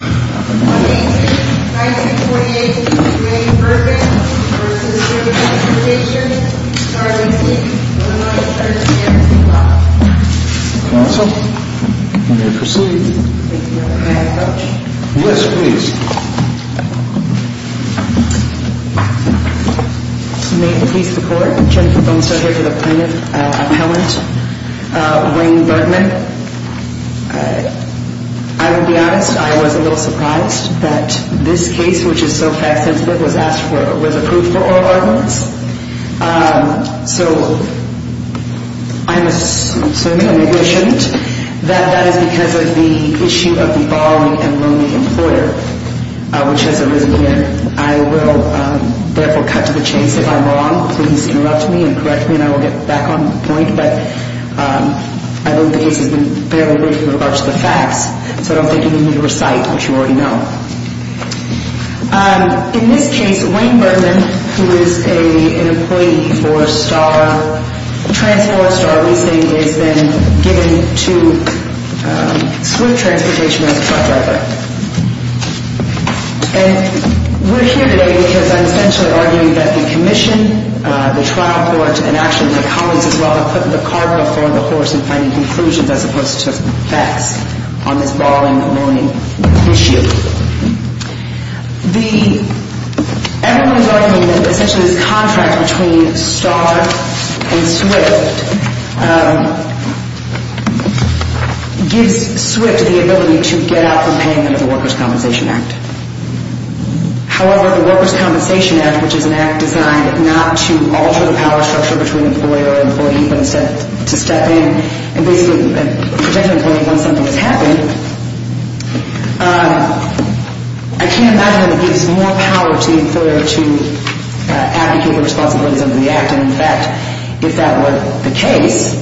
18th, 1948, Wayne Bergman v. The Workers' Compensation Commission, starting at 1-9-13 at 3 o'clock. Counsel, you may proceed. Thank you, Your Honor. I have a voucher. List, please. May it please the Court, Jennifer Bonestell here for the plaintiff, appellant Wayne Bergman. I will be honest, I was a little surprised that this case, which is so fact sensitive, was approved for oral arguments. So I'm assuming, or maybe I shouldn't, that that is because of the issue of the borrowing and loaning employer, which has arisen here. I will therefore cut to the chase. If I'm wrong, please interrupt me and correct me and I will get back on point, but I believe the case has been fairly good in regards to the facts, so I don't think you need me to recite what you already know. In this case, Wayne Bergman, who is an employee for Star, Trans4, Star Leasing, has been given to Swift Transportation as a truck driver. And we're here today because I'm essentially arguing that the commission, the trial court, and actually the comments as well have put the car before the horse in finding conclusions as opposed to facts on this borrowing and loaning issue. Everyone is arguing that essentially this contract between Star and Swift gives Swift the ability to get out from paying under the Workers' Compensation Act. However, the Workers' Compensation Act, which is an act designed not to alter the power structure between employer and employee, but instead to step in and basically protect an employee once something has happened, I can't imagine that it gives more power to the employer to advocate their responsibilities under the act. And in fact, if that were the case,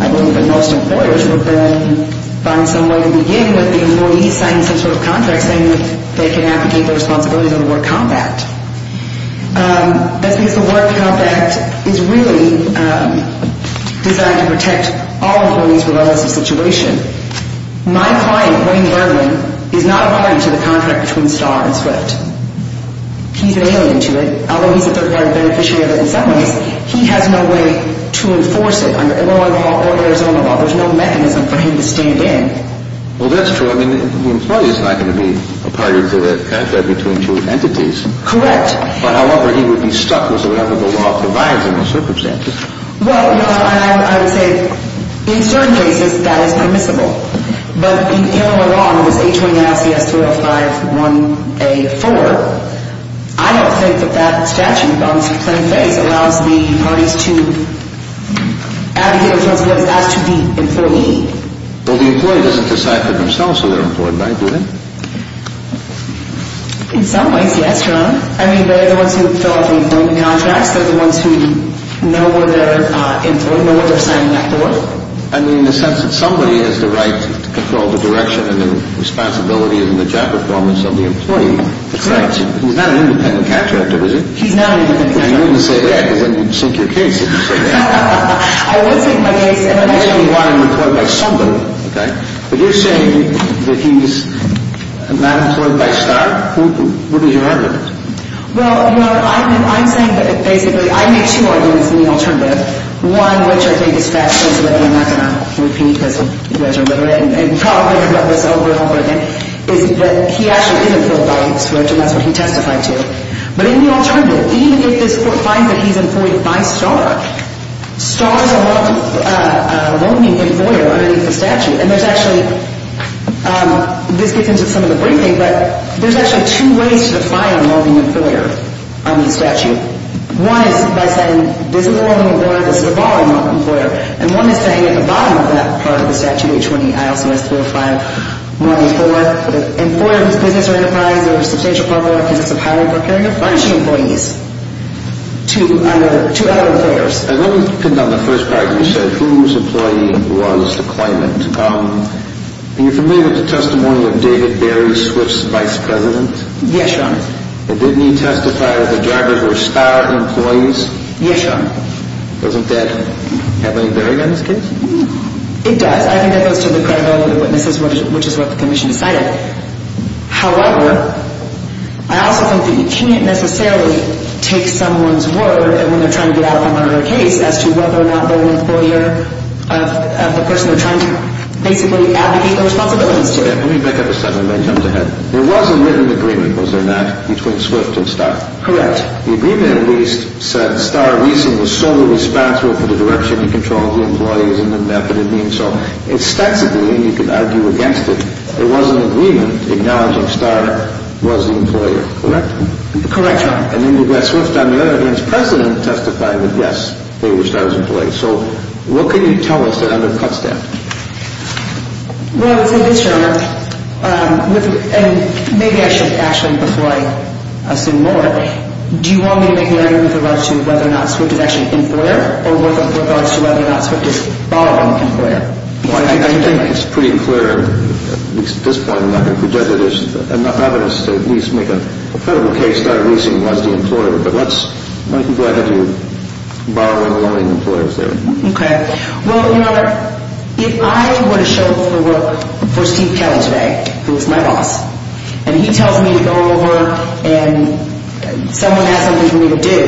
I believe that most employers would then find some way to begin with the employee signing some sort of contract saying that they can advocate their responsibilities under the Work Comp Act. That's because the Work Comp Act is really designed to protect all employees regardless of situation. My client, Wayne Bergman, is not a party to the contract between Star and Swift. He's an alien to it, although he's a third-party beneficiary of it in some ways. He has no way to enforce it under Illinois law or Arizona law. There's no mechanism for him to stand in. Well, that's true. I mean, the employee is not going to be a party to that contract between two entities. Correct. However, he would be stuck with whatever the law provides in those circumstances. Well, you know, I would say in certain cases that is permissible. But in Illinois law, in this H-29-SCS-305-1A-4, I don't think that that statute on its plain face allows the parties to advocate their responsibilities as to the employee. Well, the employee doesn't decide for themselves who they're employed by, do they? In some ways, yes, Your Honor. I mean, they're the ones who fill out the employee contracts. They're the ones who know where they're employed, know what they're signing up for. I mean, in the sense that somebody has the right to control the direction and the responsibility and the job performance of the employee. Correct. He's not an independent contractor, is he? He's not an independent contractor. You wouldn't say that because then you'd sink your case if you said that. I would sink my case. But you're saying that he's not employed by STAR? What is your argument? Well, Your Honor, I'm saying that basically I make two arguments in the alternative. One, which I think is fact-specific and I'm not going to repeat because you guys are literate and probably have read this over and over again, is that he actually is employed by STAR, and that's what he testified to. But in the alternative, even if this court finds that he's employed by STAR, STAR is a loaning employer underneath the statute. And there's actually – this gets into some of the briefing, but there's actually two ways to define a loaning employer on the statute. One is by saying this is a loaning employer, this is a borrowing employer. And one is saying at the bottom of that part of the statute, H20, ILCS 305-104, an employer whose business or enterprise or substantial property or business of hiring or carrying or furnishing employees. Two other employers. I've only picked on the first part. You said whose employee was the claimant. Are you familiar with the testimony of David Barry, Swift's vice president? Yes, Your Honor. Didn't he testify that the drivers were STAR employees? Yes, Your Honor. Doesn't that have any bearing on this case? It does. I think that goes to the credibility of the witnesses, which is what the commission decided. However, I also think that you can't necessarily take someone's word when they're trying to get out of a murder case as to whether or not they're an employer of the person they're trying to basically advocate their responsibilities to. Let me pick up a second and then jump ahead. There was a written agreement, was there not, between Swift and STAR? Correct. The agreement, at least, said STAR was solely responsible for the direction you controlled the employees and the method of doing so. Extensively, you could argue against it. There was an agreement acknowledging STAR was the employer. Correct? Correct, Your Honor. And then did that Swift on the other hand's president testify that, yes, they were STAR's employees? So what can you tell us that undercuts that? Well, I would say this, Your Honor, and maybe I should actually, before I assume more, do you want me to make an argument with regards to whether or not Swift is actually an employer or with regards to whether or not Swift is borrowing the employer? I think it's pretty clear, at least at this point, I'm not going to prejudge that there's enough evidence to at least make a credible case that a leasing was the employer, but let's make the argument that you're borrowing or loaning employers there. Okay. Well, Your Honor, if I were to show up for work for Steve Kelly today, who is my boss, and he tells me to go over and someone has something for me to do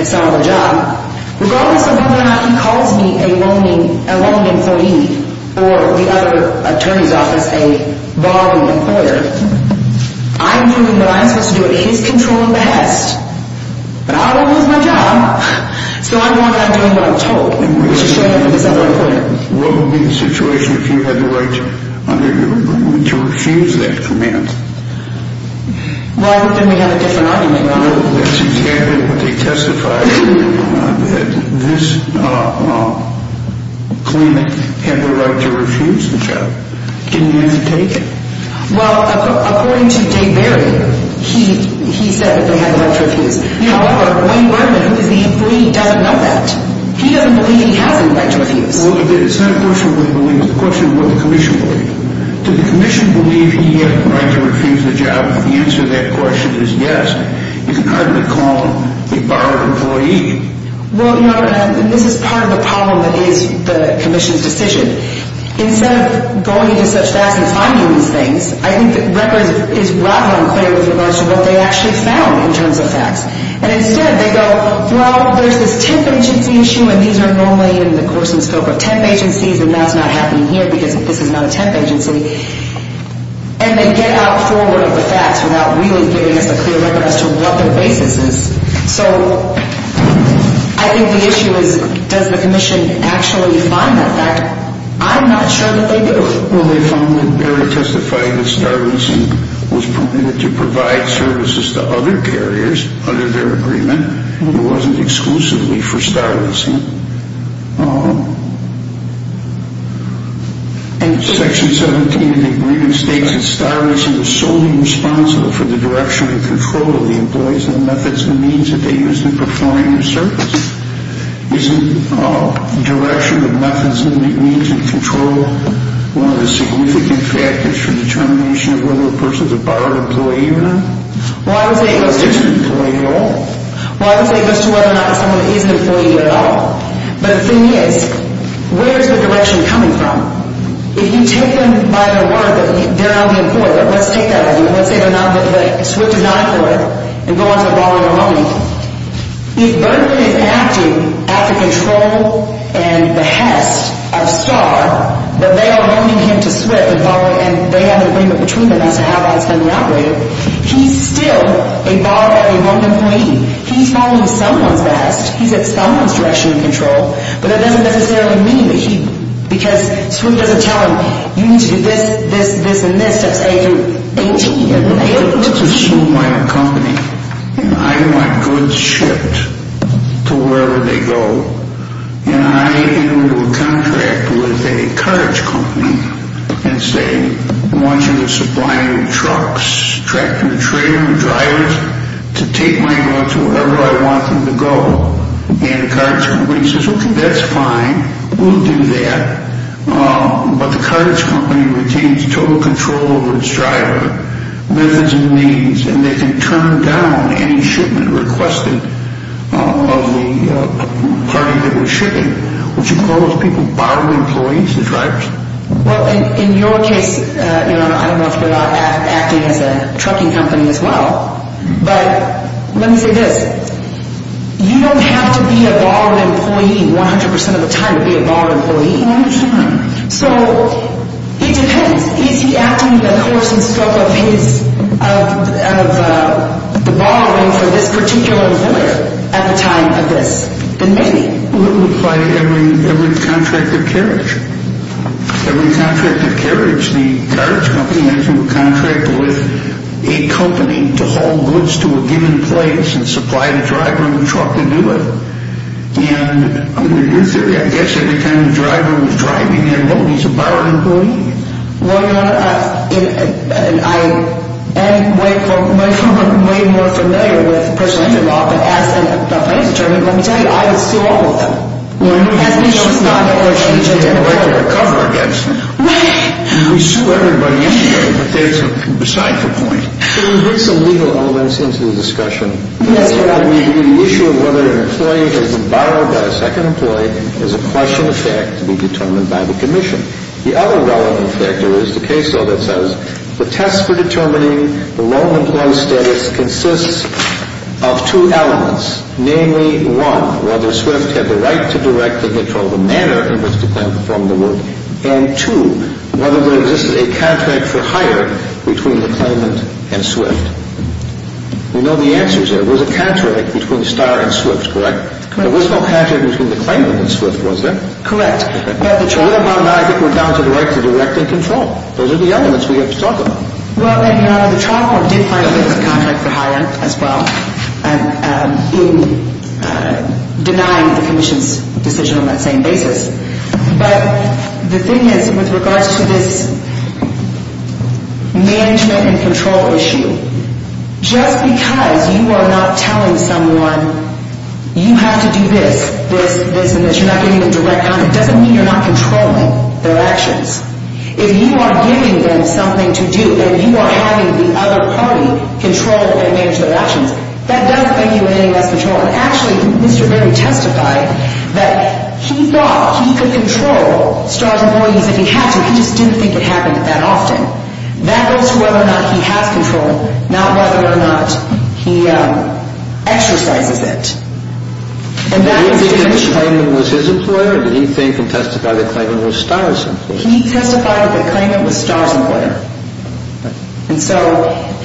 at some other job, regardless of whether or not he calls me a loan employee or the other attorney's office a borrowing employer, I'm doing what I'm supposed to do at his control and behest, but I don't lose my job, so I'm doing what I'm told. What would be the situation if he had the right to refuse that command? Well, then we have a different argument, Your Honor. Well, that's intended, but they testified that this claimant had the right to refuse the job. Didn't he have to take it? Well, according to Dave Barry, he said that they had the right to refuse. However, Wayne Berman, who is the employee, doesn't know that. He doesn't believe he has any right to refuse. Well, it's not a question of what he believes. It's a question of what the commission believes. Does the commission believe he has the right to refuse the job? If the answer to that question is yes, you can hardly call him a borrowed employee. Well, Your Honor, and this is part of the problem that is the commission's decision. Instead of going into such facts and finding these things, I think the record is rather unclear with regards to what they actually found in terms of facts. And instead, they go, well, there's this temp agency issue, and these are normally in the course and scope of temp agencies, and that's not happening here because this is not a temp agency. And they get out forward of the facts without really giving us a clear record as to what their basis is. So I think the issue is, does the commission actually find that fact? I'm not sure that they do. Well, they found that Barry testified that Star Racing was permitted to provide services to other carriers under their agreement, and it wasn't exclusively for Star Racing. And Section 17 of the agreement states that Star Racing was solely responsible for the direction and control of the employees and the methods and means that they used in performing their service. Isn't direction and methods and means and control one of the significant factors for determination of whether a person is a borrowed employee or not? Well, I would say it goes to whether or not someone is an employee at all. But the thing is, where is the direction coming from? If you take them by the word that they're not an employee, let's take that as an example. Let's say that SWIFT is not an employee and go on to a borrowing or a loaning. If Berkeley is acting at the control and behest of Star, but they are loaning him to SWIFT and they have an agreement between them as to how that's going to operate, he's still a borrowed or a loaned employee. He's following someone's behest. He's at someone's direction and control. But that doesn't necessarily mean that he, because SWIFT doesn't tell him, you need to do this, this, this, and this until you're 18. Let's assume I'm a company and I want goods shipped to wherever they go. And I enter into a contract with a carge company and say, I want you to supply me with trucks, tractor, trailer, drivers to take my goods wherever I want them to go. And the carge company says, okay, that's fine. We'll do that. But the carge company retains total control over its driver, measures and needs, and they can turn down any shipment requested of the party that was shipping. Would you call those people borrowed employees, the drivers? Well, in your case, I don't know if we're acting as a trucking company as well, but let me say this. You don't have to be a borrowed employee 100% of the time to be a borrowed employee. I understand. So it depends. Is he acting in the course and scope of the borrowing for this particular employer at the time of this than maybe? Well, it would apply to every contract of carriage. Every contract of carriage. The carge company has a contract with a company to haul goods to a given place and supply the driver of the truck to do it. And under your theory, I guess every time the driver was driving their load, he's a borrowed employee. Well, I am way more familiar with personal injury law, but as the plaintiff determined, let me tell you, I would sue all of them. Well, we sued everybody yesterday, but that's beside the point. So we bring some legal elements into the discussion. Yes, Your Honor. The issue of whether an employee has been borrowed by a second employee is a question of fact to be determined by the commission. The other relevant factor is the case law that says the test for determining the loan employee status consists of two elements, namely, one, whether Swift had the right to direct the control of the manor in which the claimant performed the work, and two, whether there existed a contract for hire between the claimant and Swift. We know the answers there. There was a contract between Starr and Swift, correct? Correct. There was no contract between the claimant and Swift, was there? Correct. What about I think we're down to the right to direct and control? Those are the elements we have to talk about. Well, Your Honor, the trial court did file a contract for hire as well, denying the commission's decision on that same basis. But the thing is, with regards to this management and control issue, just because you are not telling someone you have to do this, this, this, and this, you're not giving them direct comment, doesn't mean you're not controlling their actions. If you are giving them something to do and you are having the other party control and manage their actions, that does mean you're gaining less control. Actually, Mr. Berry testified that he thought he could control Starr's employees if he had to. He just didn't think it happened that often. That goes to whether or not he has control, not whether or not he exercises it. Did he think the claimant was his employer? Did he think and testify that the claimant was Starr's employer? He testified that the claimant was Starr's employer. And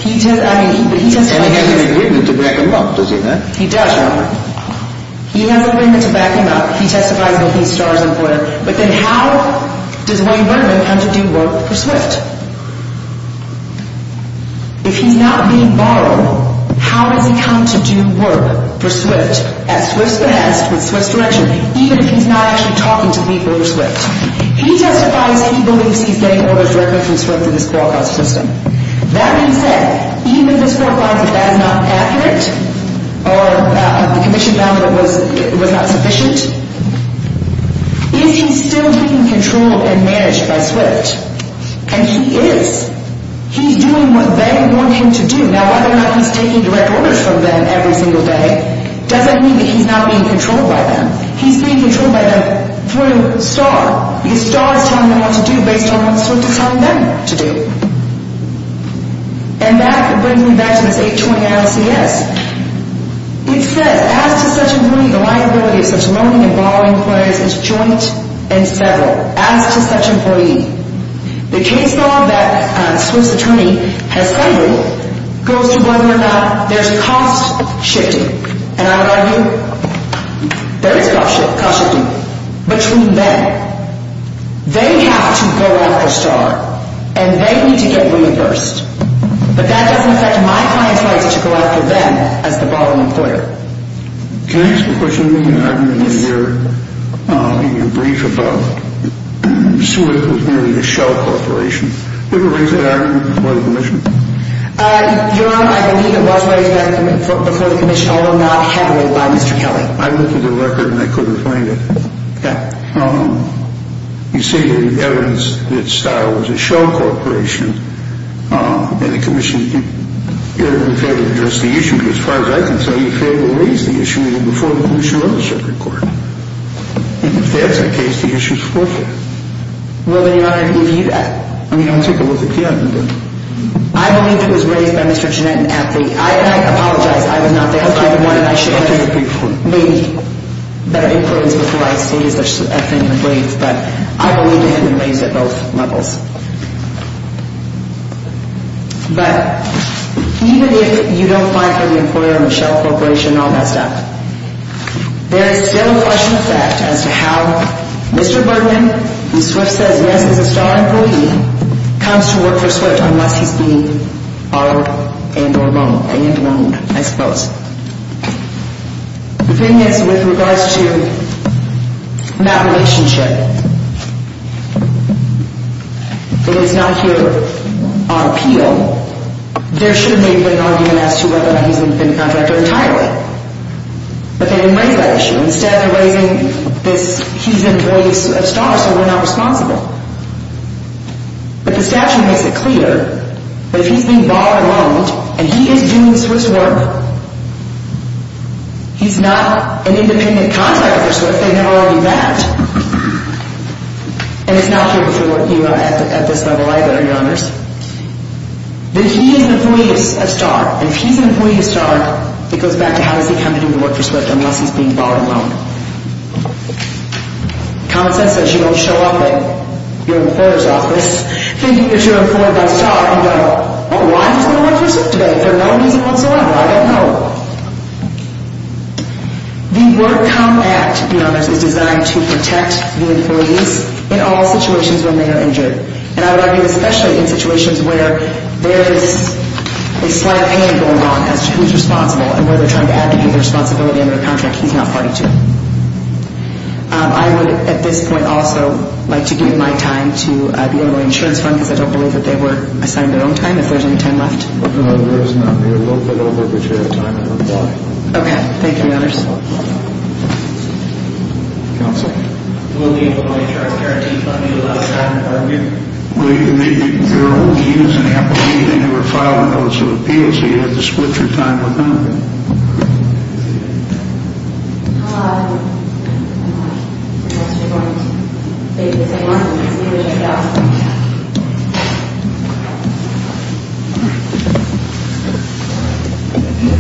he has an agreement to back him up, does he not? He does, Robert. He has an agreement to back him up. He testifies that he's Starr's employer. But then how does William Berkman come to do work for SWIFT? If he's not being borrowed, how does he come to do work for SWIFT at SWIFT's behest, with SWIFT's direction, even if he's not actually talking to the people of SWIFT? He testifies he believes he's getting orders directly from SWIFT through this qualifying system. That being said, even if this qualifies as not accurate, or the condition found was not sufficient, is he still taking control and managed by SWIFT? And he is. He's doing what they want him to do. Now, whether or not he's taking direct orders from them every single day doesn't mean that he's not being controlled by them. He's being controlled by them through Starr. Because Starr is telling him what to do based on what SWIFT is telling them to do. And that brings me back to this 820 ILCS. It says, as to such an employee, the liability of such loaning and borrowing claims is joint and several. As to such an employee. The case law that SWIFT's attorney has funded goes to whether or not there's cost shifting. And I would argue, there is cost shifting. Between them. They have to go after Starr. And they need to get women first. But that doesn't affect my client's right to go after them as the borrowing employer. Can I ask a question? Yes. In your brief about SWIFT was merely a shell corporation. Was there a reason for that argument before the commission? Your Honor, I believe it was raised before the commission. Although not heavily by Mr. Kelly. I looked at the record and I couldn't find it. Okay. You say you have evidence that Starr was a shell corporation. And the commission, you're in favor of addressing the issue. Because as far as I can tell, you're in favor of raising the issue even before the commission or the circuit court. And if that's the case, the issue is forth it. Well, then, Your Honor, if you... I mean, I'll take a look at the argument. I believe it was raised by Mr. Jeanette and Anthony. I apologize. I was not there. I should have made better inference before I stated such a thing in the brief. But I believe it had been raised at both levels. But even if you don't find for the employer a shell corporation and all that stuff, there is still a question of fact as to how Mr. Birdman, who Swift says he has as a Starr employee, comes to work for Swift unless he's being borrowed and or loaned. And loaned, I suppose. The thing is, with regards to that relationship, it is not here on appeal. There should have maybe been an argument as to whether or not he's been a contractor entirely. But they didn't raise that issue. Instead, they're raising this... He's an employee of Starr, so we're not responsible. But the statute makes it clear that if he's being borrowed and loaned, and he is doing Swift's work, he's not an independent contractor for Swift. They have already met. And it's not here before you at this level either, Your Honors. That he is an employee of Starr. And if he's an employee of Starr, it goes back to how does he come to do the work for Swift unless he's being borrowed and loaned. Common sense says you don't show up at your employer's office thinking that you're employed by Starr. You go, oh, why is he going to work for Swift today for no reason whatsoever? I don't know. The Work Comp Act, Your Honors, is designed to protect the employees in all situations when they are injured. And I would argue especially in situations where there is a slight pain going on as to who's responsible and where they're trying to add to his responsibility under the contract he's not party to. I would, at this point, also like to give my time to the Illinois Insurance Fund because I don't believe that they were assigned their own time. If there's any time left? No, there is none. We're a little bit over the chair of time. I don't know why. Okay. Thank you, Your Honors. Counsel? Will the Illinois Insurance Guarantee Fund be allowed to hire an employee? Well, your only need is an employee. They never filed a notice of appeal, so you'd have to split your time with them. Hi. Hi. Perhaps you're going to take the same office as me, which I doubt. Thank you.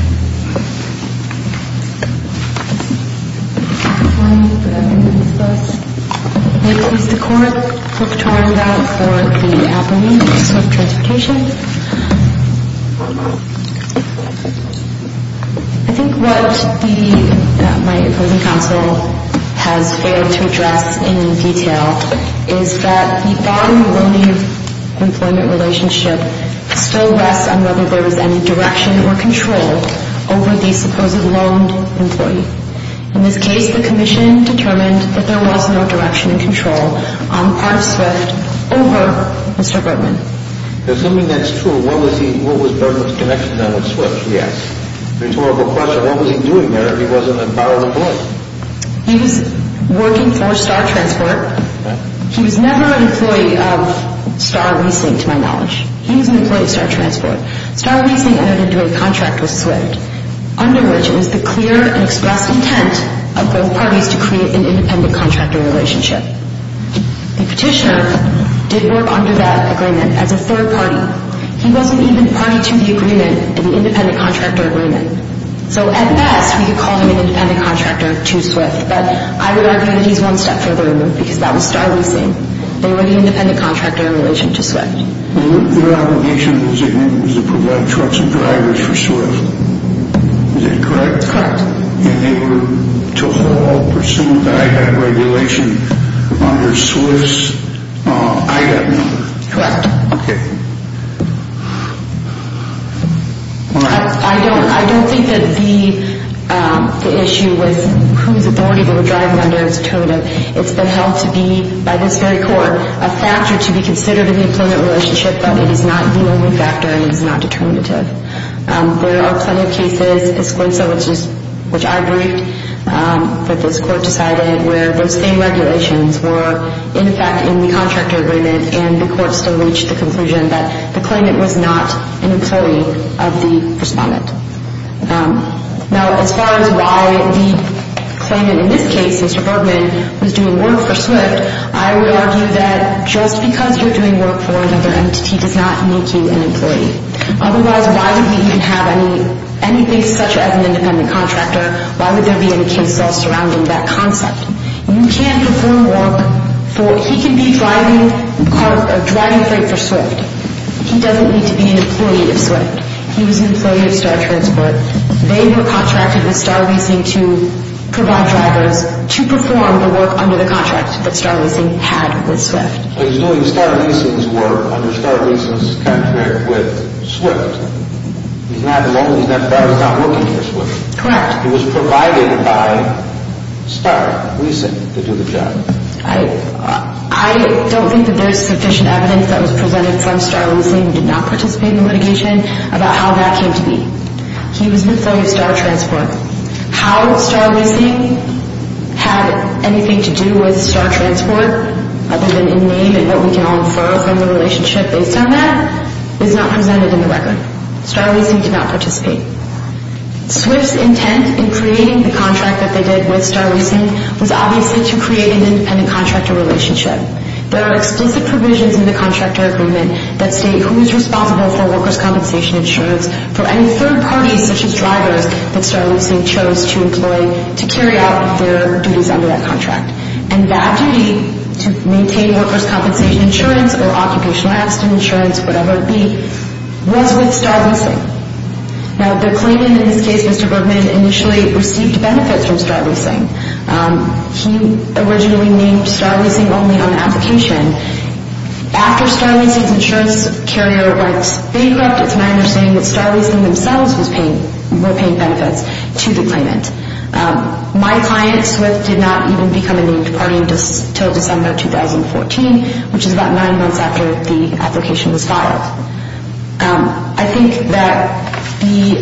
May it please the Court. Brooke Torendau for the Appalachian District Transportation. I think what my opposing counsel has failed to address in detail is that the borrowing-loan-leave employment relationship still rests on whether there was any direction or control over the supposed loaned employee. In this case, the Commission determined that there was no direction and control on part of SWIFT over Mr. Bergman. Assuming that's true, what was Bergman's connection then with SWIFT, we ask? Rhetorical question. What was he doing there if he wasn't a borrowed employee? He was working for Star Transport. He was never an employee of Star Leasing to my knowledge. He was an employee of Star Transport. Star Leasing entered into a contract with SWIFT under which it was the clear and expressed intent of both parties to create an independent contractor relationship. The petitioner did work under that agreement as a third party. He wasn't even party to the agreement, the independent contractor agreement. So at best, we could call him an independent contractor to SWIFT, but I would argue that he's one step further removed because that was Star Leasing. They were the independent contractor in relation to SWIFT. Their obligation was to provide trucks and drivers for SWIFT. Is that correct? Correct. And they were to hold or pursue the IDAP regulation under SWIFT's IDAP number. Correct. Okay. I don't think that the issue with whose authority they were driving under is determinative. It's been held to be, by this very court, a factor to be considered in the employment relationship, but it is not the only factor and it is not determinative. There are plenty of cases, which I briefed, that this court decided where those same regulations were in effect in the contractor agreement and the court still reached the conclusion that the claimant was not an employee of the respondent. Now, as far as why the claimant in this case, Mr. Bergman, was doing work for SWIFT, I would argue that just because you're doing work for another entity does not make you an employee. Otherwise, why would he even have anything such as an independent contractor? Why would there be any case law surrounding that concept? You can perform work for – he can be driving freight for SWIFT. He doesn't need to be an employee of SWIFT. He was an employee of Star Transport. They were contracted with Star Leasing to provide drivers to perform the work under the contract that Star Leasing had with SWIFT. He's doing Star Leasing's work under Star Leasing's contract with SWIFT. He's not alone. He's not working for SWIFT. Correct. In fact, he was provided by Star Leasing to do the job. I don't think that there's sufficient evidence that was presented from Star Leasing who did not participate in the litigation about how that came to be. He was an employee of Star Transport. How Star Leasing had anything to do with Star Transport other than in name and what we can all infer from the relationship based on that is not presented in the record. Star Leasing did not participate. SWIFT's intent in creating the contract that they did with Star Leasing was obviously to create an independent contractor relationship. There are explicit provisions in the contractor agreement that state who is responsible for workers' compensation insurance for any third parties such as drivers that Star Leasing chose to employ to carry out their duties under that contract. And that duty to maintain workers' compensation insurance or occupational accident insurance, whatever it be, was with Star Leasing. Now, the claimant in this case, Mr. Bergman, initially received benefits from Star Leasing. He originally named Star Leasing only on application. After Star Leasing's insurance carrier went bankrupt, it's my understanding that Star Leasing themselves were paying benefits to the claimant. My client, SWIFT, did not even become a named party until December 2014, which is about nine months after the application was filed. I think that the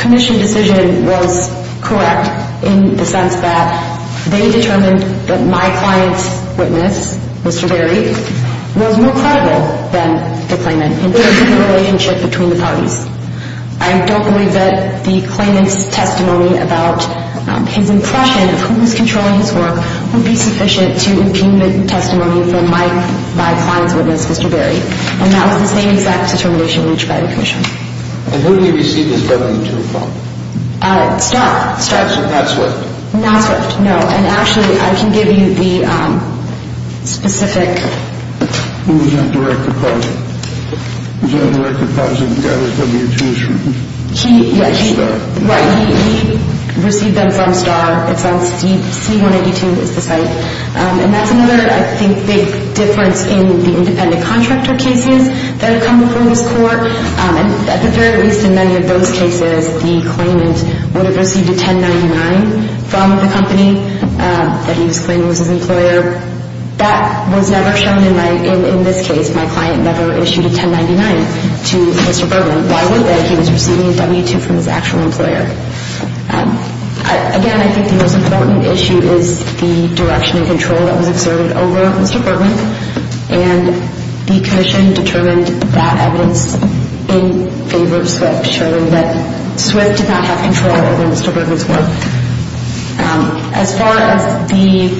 commission decision was correct in the sense that they determined that my client's witness, Mr. Berry, was more credible than the claimant in terms of the relationship between the parties. I don't believe that the claimant's testimony about his impression of who was controlling his work would be sufficient to impugn the testimony from my client's witness, Mr. Berry. And that was the same exact determination reached by the commission. And who did he receive his W-2 from? Star. So not SWIFT? Not SWIFT, no. And actually, I can give you the specific... Who was that direct deposit? Was that a direct deposit that got his W-2 issued? He... Star. Right. He received them from Star. It's on C-182 is the site. And that's another, I think, big difference in the independent contractor cases that have come before this court. And at the very least, in many of those cases, the claimant would have received a 1099 from the company that he was claiming was his employer. That was never shown in my... In this case, my client never issued a 1099 to Mr. Bergman. Why would they? He was receiving a W-2 from his actual employer. Again, I think the most important issue is the direction and control that was observed over Mr. Bergman. And the commission determined that evidence in favor of SWIFT showing that SWIFT did not have control over Mr. Bergman's work. As far as the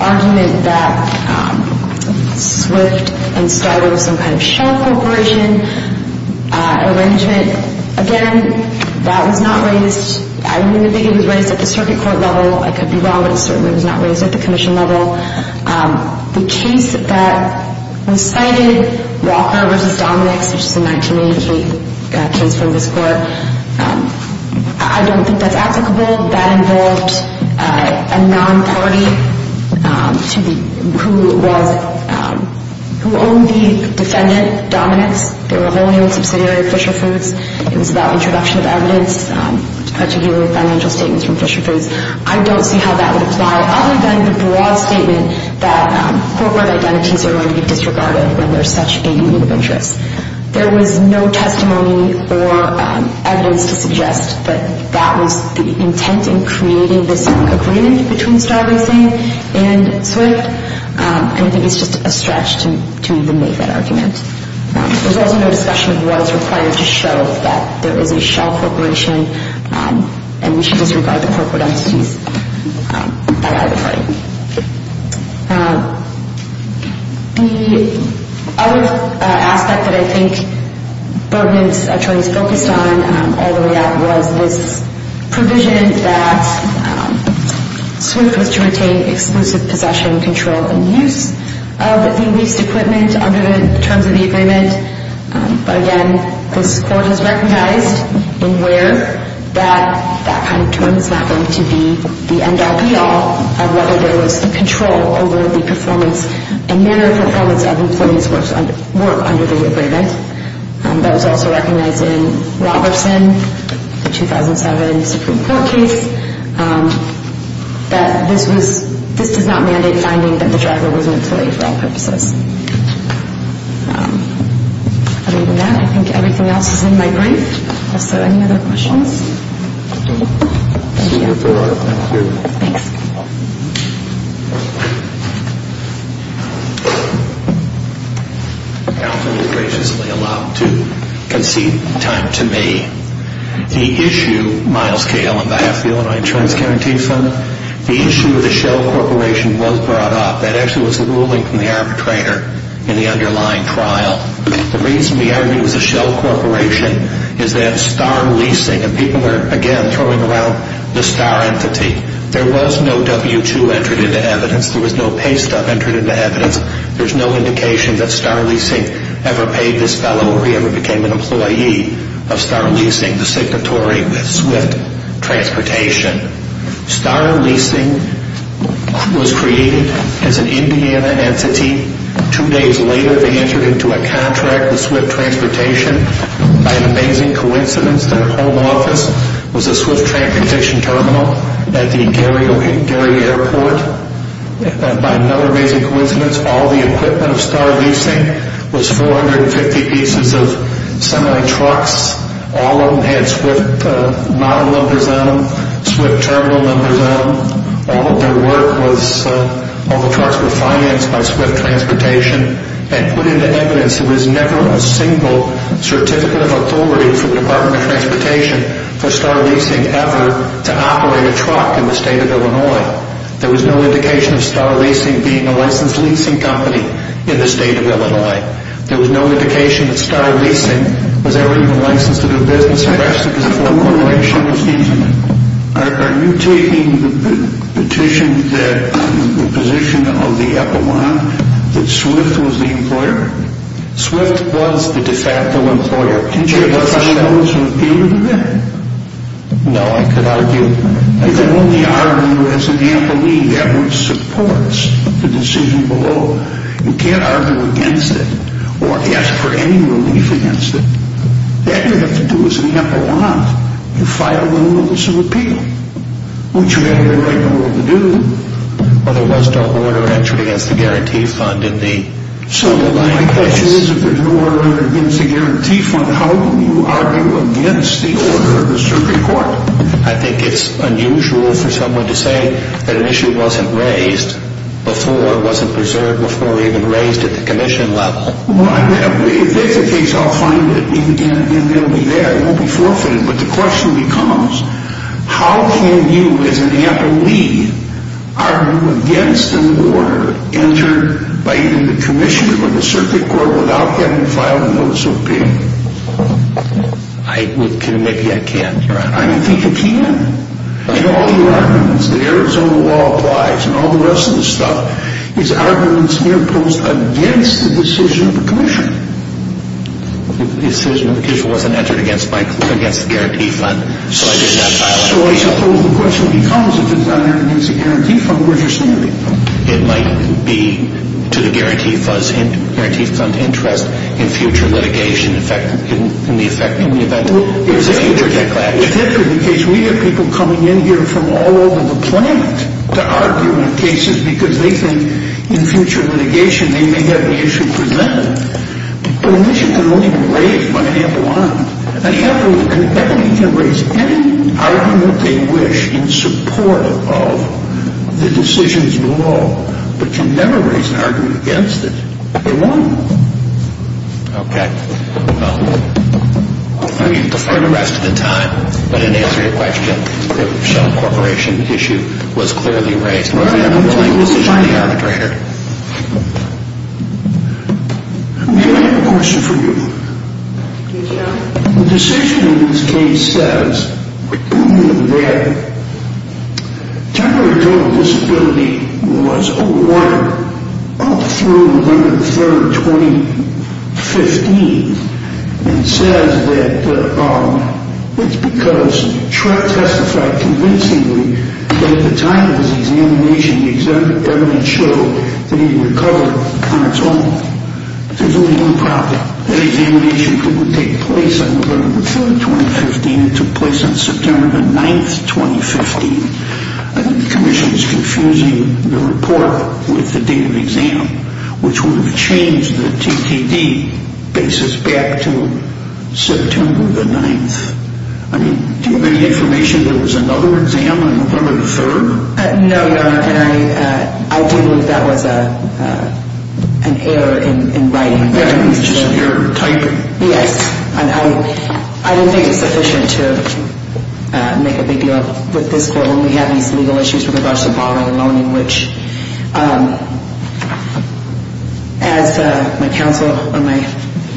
argument that SWIFT and Star were some kind of shell corporation arrangement, again, that was not raised... I really think it was raised at the circuit court level. I could be wrong, but it certainly was not raised at the commission level. The case that was cited, Walker v. Dominick's, which is a 1988 case from this court, I don't think that's applicable. That involved a non-party who owned the defendant, Dominick's. They were a whole new subsidiary of Fisher Foods. It was about introduction of evidence, particularly financial statements from Fisher Foods. I don't see how that would apply, other than the broad statement that corporate identities are going to be disregarded when there's such a need of interest. There was no testimony or evidence to suggest that that was the intent in creating this agreement between Star Racing and SWIFT. I think it's just a stretch to even make that argument. There's also no discussion of what is required to show that there is a shell corporation and we should disregard the corporate identities by either party. The other aspect that I think Berman's attorneys focused on all the way up was this provision that SWIFT was to retain exclusive possession, control, and use of the leased equipment under the terms of the agreement. But again, this court has recognized in where that kind of term is not going to be the end-all, be-all of whether there was control over the performance and manner of performance of employees' work under the agreement. That was also recognized in Robertson, the 2007 Supreme Court case, that this does not mandate finding that the driver was mentally ill for all purposes. Other than that, I think everything else is in my brief. Also, any other questions? Thank you. Thank you. Thanks. Counsel is graciously allowed to concede time to me. The issue, Myles K. Allen, on behalf of the Illinois Insurance Guarantee Fund, the issue of the shell corporation was brought up. That actually was the ruling from the arbitrator in the underlying trial. The reason the argument was a shell corporation is that star leasing, and people are again throwing around the star entity. There was no W-2 entered into evidence. There was no pay stuff entered into evidence. There's no indication that star leasing ever paid this fellow or he ever became an employee of star leasing, the signatory with Swift Transportation. Star leasing was created as an Indiana entity. Two days later, they entered into a contract with Swift Transportation. By an amazing coincidence, their home office was a Swift Transportation terminal at the Gary Airport. By another amazing coincidence, all the equipment of star leasing was 450 pieces of semi-trucks. All of them had Swift model numbers on them, Swift terminal numbers on them. All of their work was, all the trucks were financed by Swift Transportation and put into evidence. There was never a single certificate of authority from the Department of Transportation for star leasing ever to operate a truck in the state of Illinois. There was no indication of star leasing being a licensed leasing company in the state of Illinois. There was no indication that star leasing was ever even licensed to do business. The rest of it was a corporation. Are you taking the petition that, the position of the epaulant that Swift was the employer? Swift was the de facto employer. Can you argue that? No, I could argue. If you're only arguing as an epaulant, that would support the decision below. You can't argue against it or ask for any relief against it. That you have to do as an epaulant. You file the rules of appeal, which you have the right in the world to do. Otherwise, don't order entry against the guarantee fund in the underlying case. If there's an order against the guarantee fund, how can you argue against the order of the circuit court? I think it's unusual for someone to say that an issue wasn't raised before, wasn't preserved before it was even raised at the commission level. If that's the case, I'll find it and it'll be there. It won't be forfeited. But the question becomes, how can you, as an epaulee, argue against an order entered by either the commission or the circuit court without having filed a notice of appeal? Maybe I can, Your Honor. I think you can. In all your arguments, the Arizona law applies and all the rest of the stuff is arguments near post against the decision of the commission. The decision of the commission wasn't entered against my claim against the guarantee fund, so I did not file it. So I suppose the question becomes, if it's not entered against the guarantee fund, where's your standing? It might be to the guarantee fund's interest in future litigation in the event of a future backlash. If that's the case, we have people coming in here from all over the planet to argue in cases because they think in future litigation they may have an issue for them. But a mission can only be raised by an epaulee. An epaulee can raise any argument they wish in support of the decisions of the law, but can never raise an argument against it. They won't. Okay. Well, I mean, for the rest of the time, but in answer to your question, the shell corporation issue was clearly raised. We're going to have a blank decision in the arbitrator. Can I have a question for you? You can. The decision in this case says that temporary total disability was overrun up through November 3rd, 2015, and says that it's because Trump testified convincingly that at the time of his examination, the evidence showed that he recovered on his own. There's only one problem. That examination didn't take place on November 3rd, 2015. It took place on September 9th, 2015. I think the commission is confusing the report with the date of exam, which would have changed the TKD basis back to September 9th. I mean, do you have any information there was another exam on November 3rd? No, Your Honor, and I do believe that was an error in writing. An error in typing? Yes, and I don't think it's sufficient to make a big deal out of this court when we have these legal issues with regards to borrowing and loaning, which as my counsel or my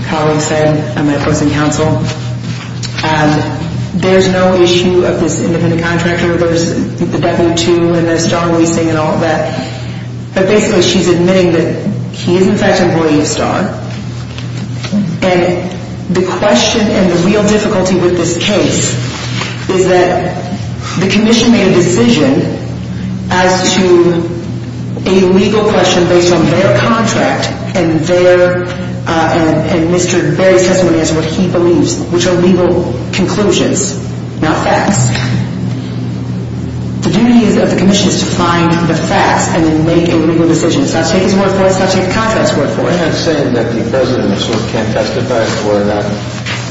colleague said, and my opposing counsel, there's no issue of this independent contractor. There's the W-2 and the star leasing and all of that, but basically she's admitting that he is in fact an employee of STAR, and the question and the real difficulty with this case is that the commission made a decision as to a legal question based on their contract and Mr. Berry's testimony as to what he believes, which are legal conclusions, not facts. The duty of the commission is to find the facts and then make a legal decision. It's not to take his word for it, it's not to take the contractor's word for it. You're not saying that the president sort of can't testify for a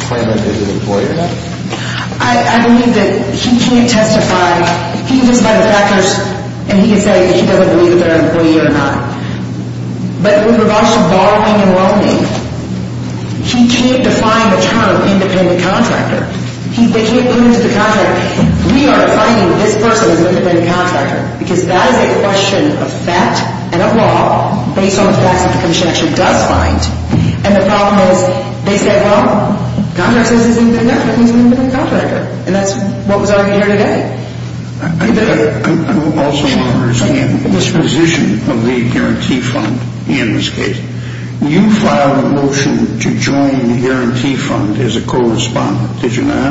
claim that he's an employee or not? I believe that he can't testify. He can testify to factors, and he can say that he doesn't believe that they're an employee or not. But with regards to borrowing and loaning, he can't define the term independent contractor. They can't put him to the contractor. We are finding that this person is an independent contractor because that is a question of fact and of law based on the facts that the commission actually does find, and the problem is they say, well, the contractor says he's an independent contractor. He's an independent contractor, and that's what was already here today. I also want to understand the disposition of the guarantee fund in this case. You filed a motion to join the guarantee fund as a correspondent, did you not?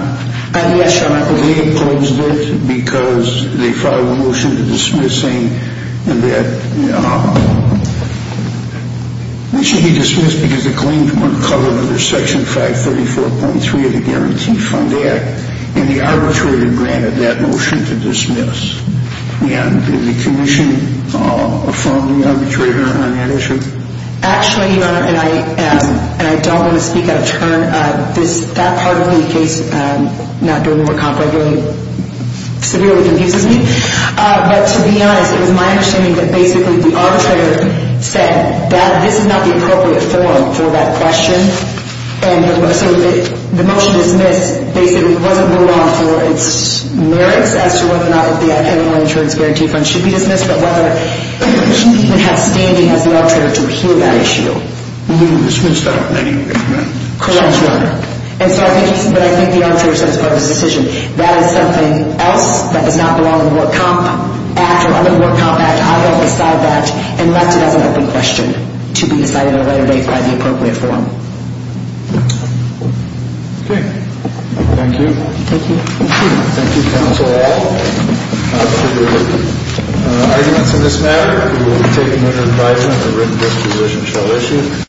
I did, Senator. They opposed it because they filed a motion to dismissing that. The motion was dismissed because the claims weren't covered under Section 534.3 of the Guarantee Fund Act, and the arbitrator granted that motion to dismiss. And did the commission affirm the arbitrator on that issue? Actually, Your Honor, and I don't want to speak out of turn. That part of the case, not doing work on it, severely confuses me. But to be honest, it was my understanding that basically the arbitrator said that this is not the appropriate form for that question. And so the motion dismissed basically wasn't moved on for its merits as to whether or not the animal insurance guarantee fund should be dismissed, but whether it has standing as the arbitrator to hear that issue. You mean it was dismissed without any agreement? Correct, Your Honor. And so I think the arbitrator said as part of his decision, that is something else that does not belong in the Work Comp Act or under the Work Comp Act. And I will decide that and left it as an open question to be decided at a later date by the appropriate form. Okay. Thank you. Thank you. Thank you. Thank you, counsel, all. For the arguments in this matter, we will take them under advisement. The written disposition shall issue.